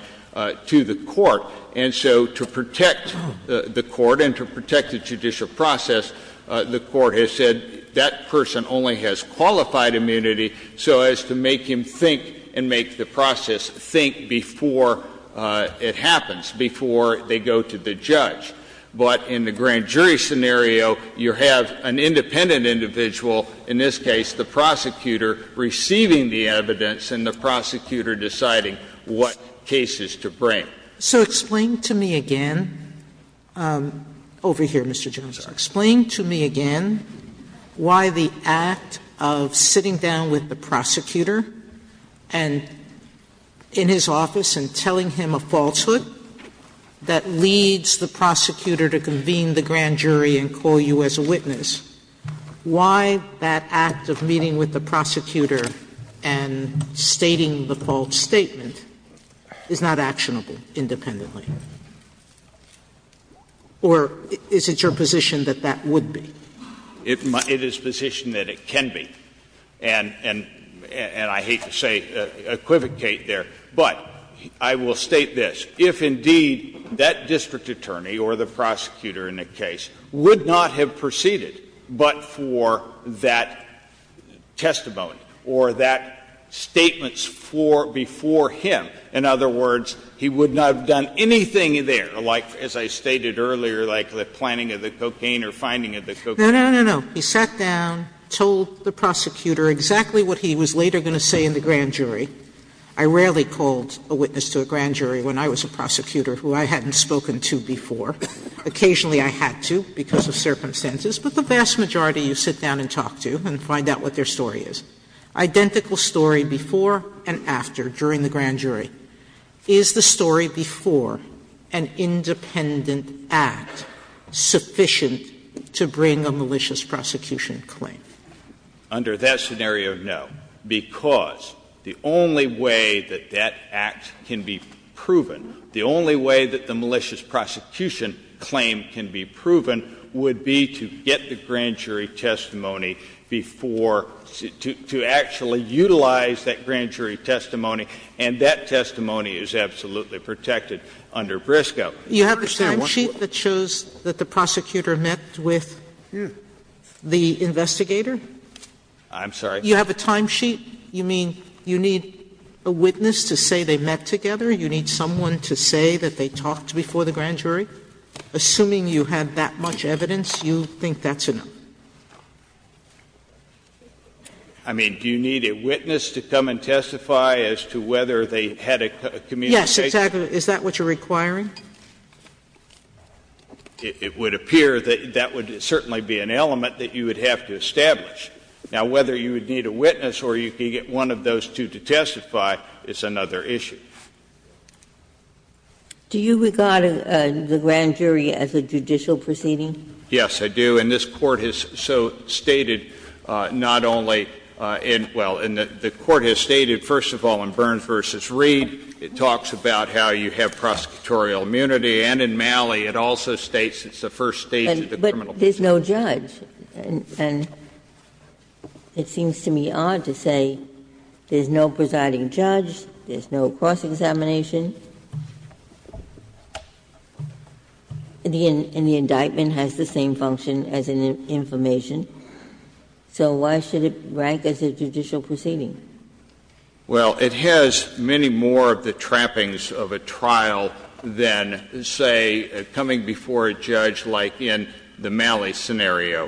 to the Court. And so to protect the Court and to protect the judicial process, the Court has said that person only has qualified immunity so as to make him think and make the process think before it happens, before they go to the judge. But in the grand jury scenario, you have an independent individual, in this case the prosecutor, receiving the evidence and the prosecutor deciding what cases to bring. Sotomayor So explain to me again — over here, Mr. Jones — explain to me again why the act of sitting down with the prosecutor and — in his office and telling him a falsehood that leads the prosecutor to convene the grand jury and call you as a witness, why that act of meeting with the prosecutor and stating the false statement is not actionable independently? Or is it your position that that would be? Jones, it is a position that it can be. And I hate to say equivocate there, but I will state this. If indeed that district attorney or the prosecutor in the case would not have proceeded but for that testimony or that statement before him, in other words, he would not have done anything there, like, as I stated earlier, like the planting of the cocaine or finding of the cocaine. Sotomayor No, no, no, no. He sat down, told the prosecutor exactly what he was later going to say in the grand jury. I rarely called a witness to a grand jury when I was a prosecutor who I hadn't spoken to before. Occasionally I had to because of circumstances, but the vast majority you sit down and talk to and find out what their story is, identical story before and after during the grand jury. Is the story before an independent act sufficient to bring a malicious prosecution claim? Under that scenario, no, because the only way that that act can be proven, the only way that the malicious prosecution claim can be proven would be to get the grand jury testimony before, to actually utilize that grand jury testimony, and that testimony is absolutely protected under Briscoe. Sotomayor You have a timesheet that shows that the prosecutor met with the investigator? I'm sorry? Sotomayor You have a timesheet. You mean you need a witness to say they met together? You need someone to say that they talked before the grand jury? Assuming you had that much evidence, you think that's enough? I mean, do you need a witness to come and testify as to whether they had a communication? Sotomayor Yes, exactly. Is that what you're requiring? It would appear that that would certainly be an element that you would have to establish. Now, whether you would need a witness or you could get one of those two to testify is another issue. Do you regard the grand jury as a judicial proceeding? Yes, I do. And this Court has so stated not only in the Court has stated, first of all, in Burns v. Reed, it talks about how you have prosecutorial immunity, and in Malley, it also states it's the first stage of the criminal proceeding. But there's no judge. And it seems to me odd to say there's no presiding judge, there's no cross-examination, and the indictment has the same function as an information. So why should it rank as a judicial proceeding? Well, it has many more of the trappings of a trial than, say, coming before a judge like in the Malley scenario.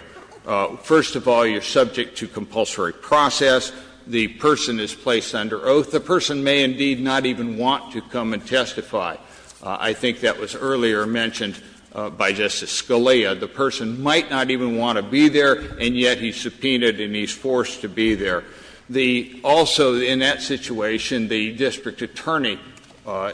First of all, you're subject to compulsory process. The person is placed under oath. The person may indeed not even want to come and testify. I think that was earlier mentioned by Justice Scalia. The person might not even want to be there, and yet he's subpoenaed and he's forced to be there. Also, in that situation, the district attorney,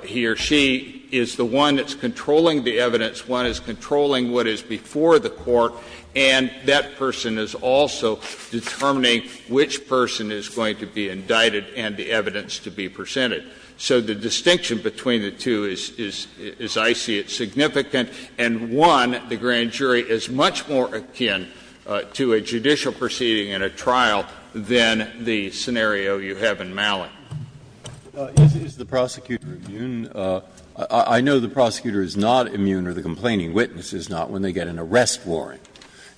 he or she is the one that's controlling the evidence. One is controlling what is before the court, and that person is also determining which person is going to be indicted and the evidence to be presented. So the distinction between the two is, as I see it, significant. And one, the grand jury is much more akin to a judicial proceeding in a trial than the scenario you have in Malley. Breyer. Is the prosecutor immune? I know the prosecutor is not immune or the complaining witness is not when they get an arrest warrant.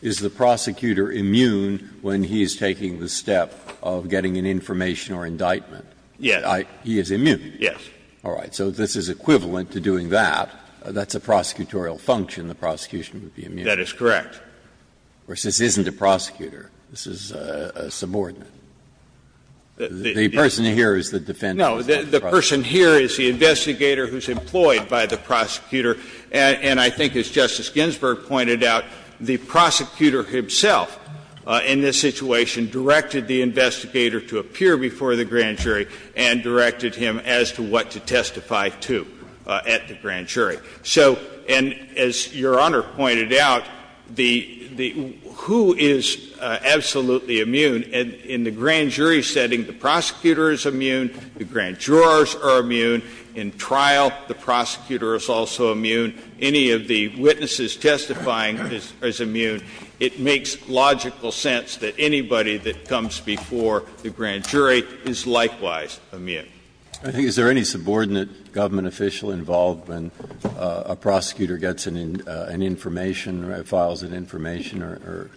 Is the prosecutor immune when he is taking the step of getting an information or indictment? Yes. He is immune? Yes. All right. So this is equivalent to doing that. That's a prosecutorial function, the prosecution would be immune. That is correct. This isn't a prosecutor. This is a subordinate. The person here is the defendant. No. The person here is the investigator who is employed by the prosecutor. And I think, as Justice Ginsburg pointed out, the prosecutor himself in this situation directed the investigator to appear before the grand jury and directed him as to what to testify to at the grand jury. So, and as Your Honor pointed out, the who is absolutely immune in the grand jury setting, the prosecutor is immune, the grand jurors are immune, in trial the prosecutor is also immune, any of the witnesses testifying is immune. It makes logical sense that anybody that comes before the grand jury is likewise immune. I think is there any subordinate government official involved when a prosecutor gets an information or files an information or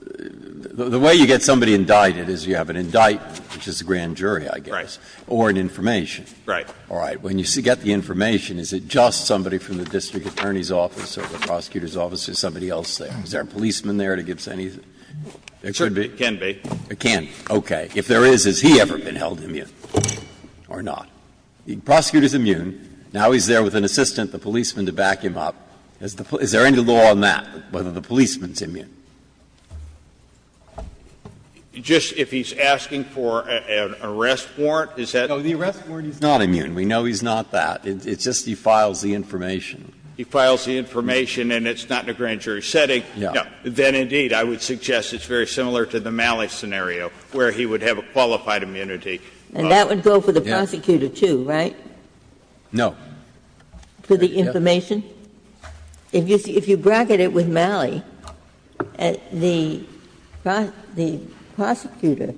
the way you get somebody indicted is you have an indictment, which is a grand jury, I guess, or an information. Right. All right. When you get the information, is it just somebody from the district attorney's office or the prosecutor's office or somebody else there? Is there a policeman there that gives any? There should be. It can be. It can. Okay. If there is, has he ever been held immune or not? The prosecutor is immune. Now he's there with an assistant, the policeman, to back him up. Is there any law on that, whether the policeman is immune? Just if he's asking for an arrest warrant, is that? No, the arrest warrant is not immune. We know he's not that. It's just he files the information. He files the information and it's not in a grand jury setting. Yeah. Then, indeed, I would suggest it's very similar to the Malley scenario, where he would have a qualified immunity. And that would go for the prosecutor, too, right? No. For the information? If you bracket it with Malley, the prosecutor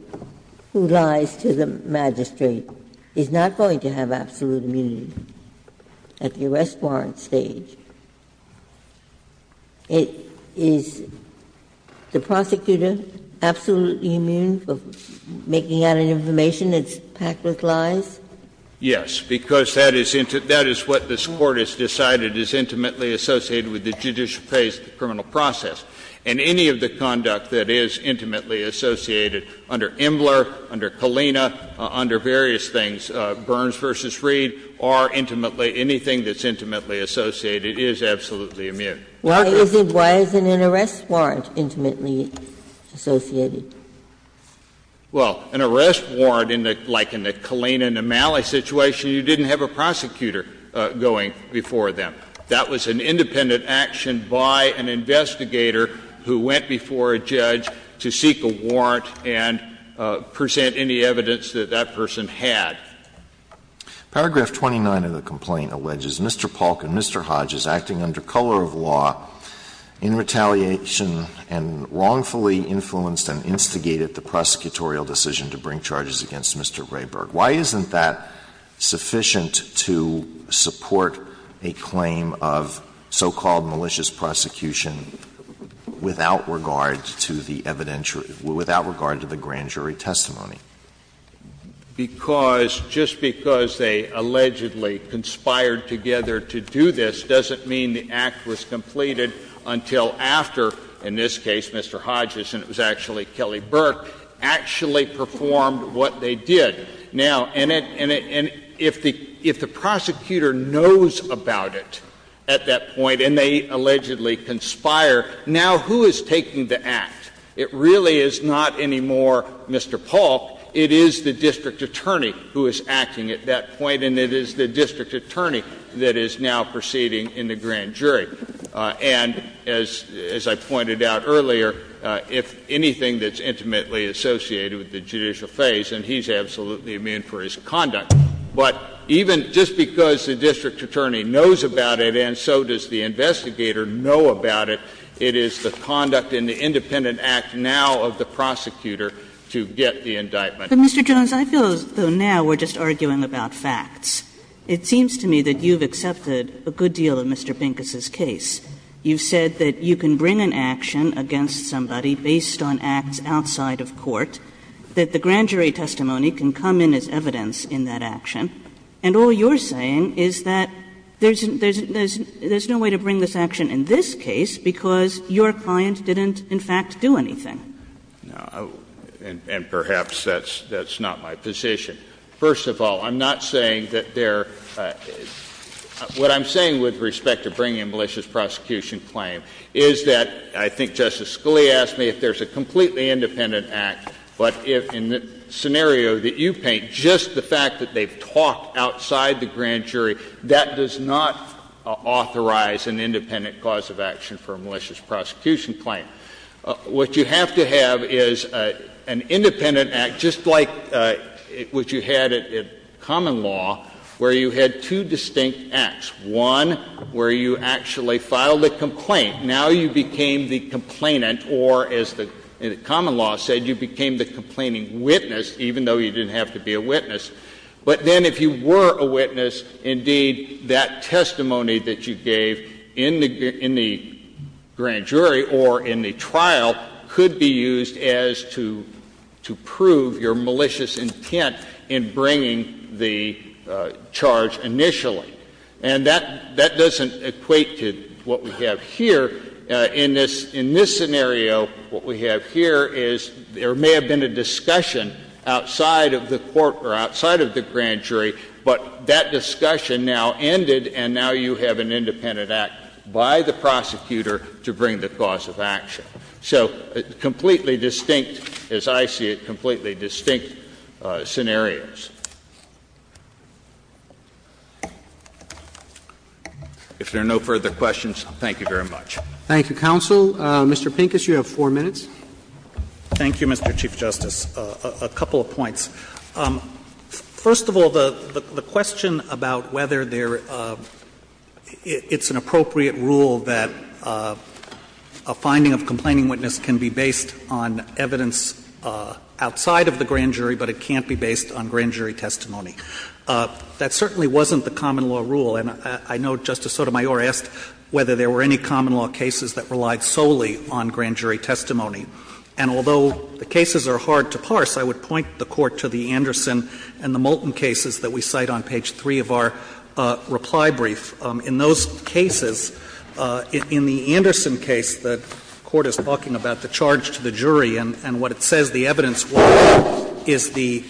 who lies to the magistrate is not going to have absolute immunity at the arrest warrant stage. Is the prosecutor absolutely immune for making out information that's packed with lies? Yes, because that is what this Court has decided is intimately associated with the judicial case, the criminal process. And any of the conduct that is intimately associated under Imler, under Kalina, under various things, Burns v. Reed, or intimately, anything that's intimately associated is absolutely immune. Why isn't an arrest warrant intimately associated? Well, an arrest warrant, like in the Kalina and the Malley situation, you didn't have a prosecutor going before them. That was an independent action by an investigator who went before a judge to seek a warrant and present any evidence that that person had. Paragraph 29 of the complaint alleges Mr. Polk and Mr. Hodge as acting under color of law in retaliation and wrongfully influenced and instigated the prosecutorial decision to bring charges against Mr. Rayburg. Why isn't that sufficient to support a claim of so-called malicious prosecution without regard to the evidentiary — without regard to the grand jury testimony? Because just because they allegedly conspired together to do this doesn't mean the act was completed until after, in this case, Mr. Hodges, and it was actually Kelly Burke, actually performed what they did. Now, and if the prosecutor knows about it at that point and they allegedly conspire, now who is taking the act? It really is not anymore Mr. Polk. It is the district attorney who is acting at that point, and it is the district attorney who is the grand jury. And as I pointed out earlier, if anything that's intimately associated with the judicial phase, and he's absolutely immune for his conduct, but even just because the district attorney knows about it and so does the investigator know about it, it is the conduct in the independent act now of the prosecutor to get the indictment. But, Mr. Jones, I feel as though now we're just arguing about facts. It seems to me that you've accepted a good deal of Mr. Pincus' case. You've said that you can bring an action against somebody based on acts outside of court, that the grand jury testimony can come in as evidence in that action, and all you're saying is that there's no way to bring this action in this case because your client didn't, in fact, do anything. Jones, and perhaps that's not my position. First of all, I'm not saying that there — what I'm saying with respect to bringing a malicious prosecution claim is that — I think Justice Scalia asked me if there's a completely independent act, but if, in the scenario that you paint, just the fact that they've talked outside the grand jury, that does not authorize an independent cause of action for a malicious prosecution claim. What you have to have is an independent act, just like what you had in common law, where you had two distinct acts, one where you actually filed a complaint. Now you became the complainant, or, as the common law said, you became the complaining witness, even though you didn't have to be a witness. But then, if you were a witness, indeed, that testimony that you gave in the grand jury or in the trial could be used as to prove your malicious intent in bringing the charge initially. And that doesn't equate to what we have here. In this scenario, what we have here is there may have been a discussion outside of the court or outside of the grand jury, but that discussion now ended, and now you have an independent act by the prosecutor to bring the cause of action. So completely distinct, as I see it, completely distinct scenarios. If there are no further questions, thank you very much. Roberts. Thank you, counsel. Mr. Pincus, you have 4 minutes. Thank you, Mr. Chief Justice. A couple of points. First of all, the question about whether there — it's an appropriate rule that a finding of complaining witness can be based on evidence outside of the grand jury, but it can't be based on grand jury testimony. That certainly wasn't the common law rule. And I know Justice Sotomayor asked whether there were any common law cases that relied solely on grand jury testimony. And although the cases are hard to parse, I would point the Court to the Anderson and the Moulton cases that we cite on page 3 of our reply brief. In those cases, in the Anderson case, the Court is talking about the charge to the jury, and what it says the evidence was is the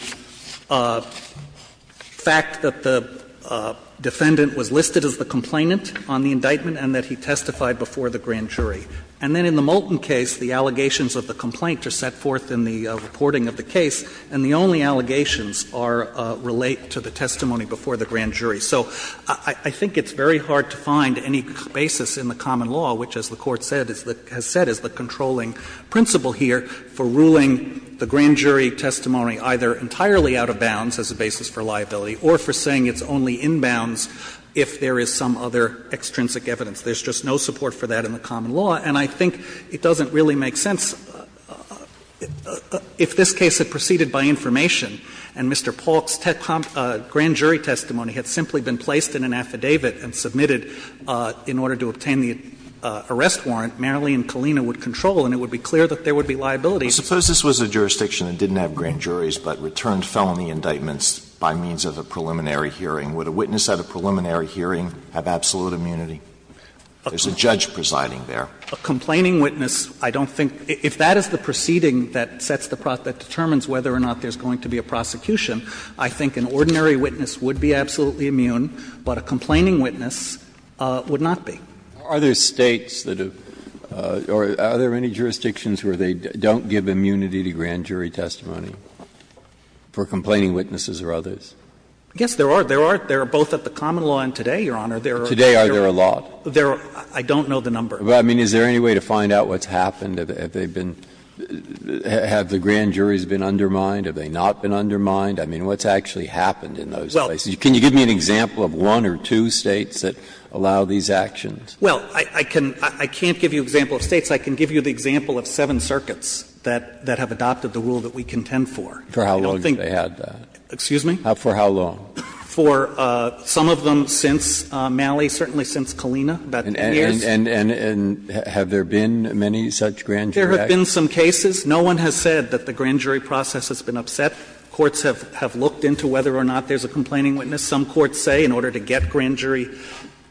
fact that the defendant was listed as the complainant on the indictment and that he testified before the grand jury. And then in the Moulton case, the allegations of the complaint are set forth in the reporting of the case, and the only allegations are — relate to the testimony before the grand jury. So I think it's very hard to find any basis in the common law, which, as the Court said, is the — has said is the controlling principle here for ruling the grand jury testimony either entirely out of bounds as a basis for liability or for saying it's only in bounds if there is some other extrinsic evidence. There's just no support for that in the common law. And I think it doesn't really make sense. If this case had proceeded by information, and Mr. Paulk's grand jury testimony had simply been placed in an affidavit and submitted in order to obtain the arrest warrant, Marley and Colina would control, and it would be clear that there would be liability. Alitoson Suppose this was a jurisdiction that didn't have grand juries, but returned felony indictments by means of a preliminary hearing. Would a witness at a preliminary hearing have absolute immunity? There's a judge presiding there. A complaining witness, I don't think — if that is the proceeding that sets the — that determines whether or not there's going to be a prosecution, I think an ordinary witness would be absolutely immune, but a complaining witness would not be. Breyer Are there States that have — or are there any jurisdictions where they don't give immunity to grand jury testimony for complaining witnesses or others? Alitoson Yes, there are. There are both at the common law and today, Your Honor. Breyer Today are there a lot? Alitoson There are — I don't know the number. Breyer I mean, is there any way to find out what's happened? Have they been — have the grand juries been undermined? Have they not been undermined? I mean, what's actually happened in those places? Can you give me an example of one or two States that allow these actions? Alitoson Well, I can't give you an example of States. I can give you the example of seven circuits that have adopted the rule that we contend for. Breyer For how long have they had that? Alitoson Excuse me? Breyer For how long? Alitoson For some of them since Malley, certainly since Kalina, about 10 years. Breyer And have there been many such grand jury actions? Alitoson There have been some cases. No one has said that the grand jury process has been upset. Courts have looked into whether or not there's a complaining witness. Some courts say in order to get grand jury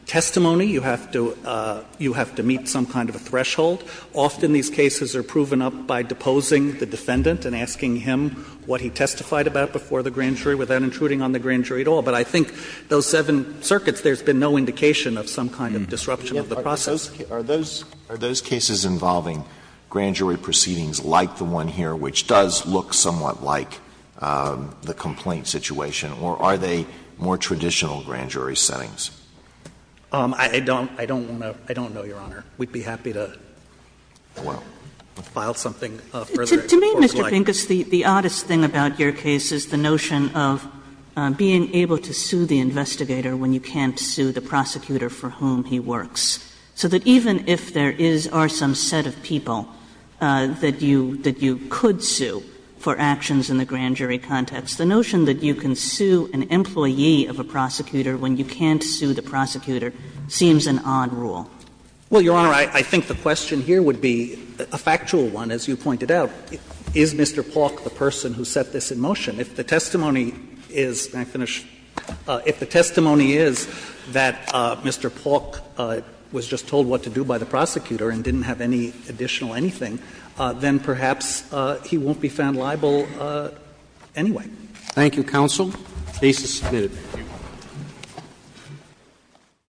testimony, you have to meet some kind of a threshold. Often these cases are proven up by deposing the defendant and asking him what he testified about before the grand jury without intruding on the grand jury at all. But I think those seven circuits, there's been no indication of some kind of disruption of the process. Alitoson Are those cases involving grand jury proceedings like the one here, which does look somewhat like the complaint situation, or are they more traditional grand jury settings? Alitoson I don't know, Your Honor. We'd be happy to file something further. Kagan To me, Mr. Pincus, the oddest thing about your case is the notion of being able to sue the investigator when you can't sue the prosecutor for whom he works. So that even if there is or some set of people that you could sue for actions in the grand jury context, the notion that you can sue an employee of a prosecutor when you can't sue the prosecutor seems an odd rule. Pincus Well, Your Honor, I think the question here would be a factual one, as you pointed out. Is Mr. Paulk the person who set this in motion? If the testimony is that Mr. Paulk was just told what to do by the prosecutor and didn't have any additional anything, then perhaps he won't be found liable anyway. Roberts Thank you, counsel. The case is submitted.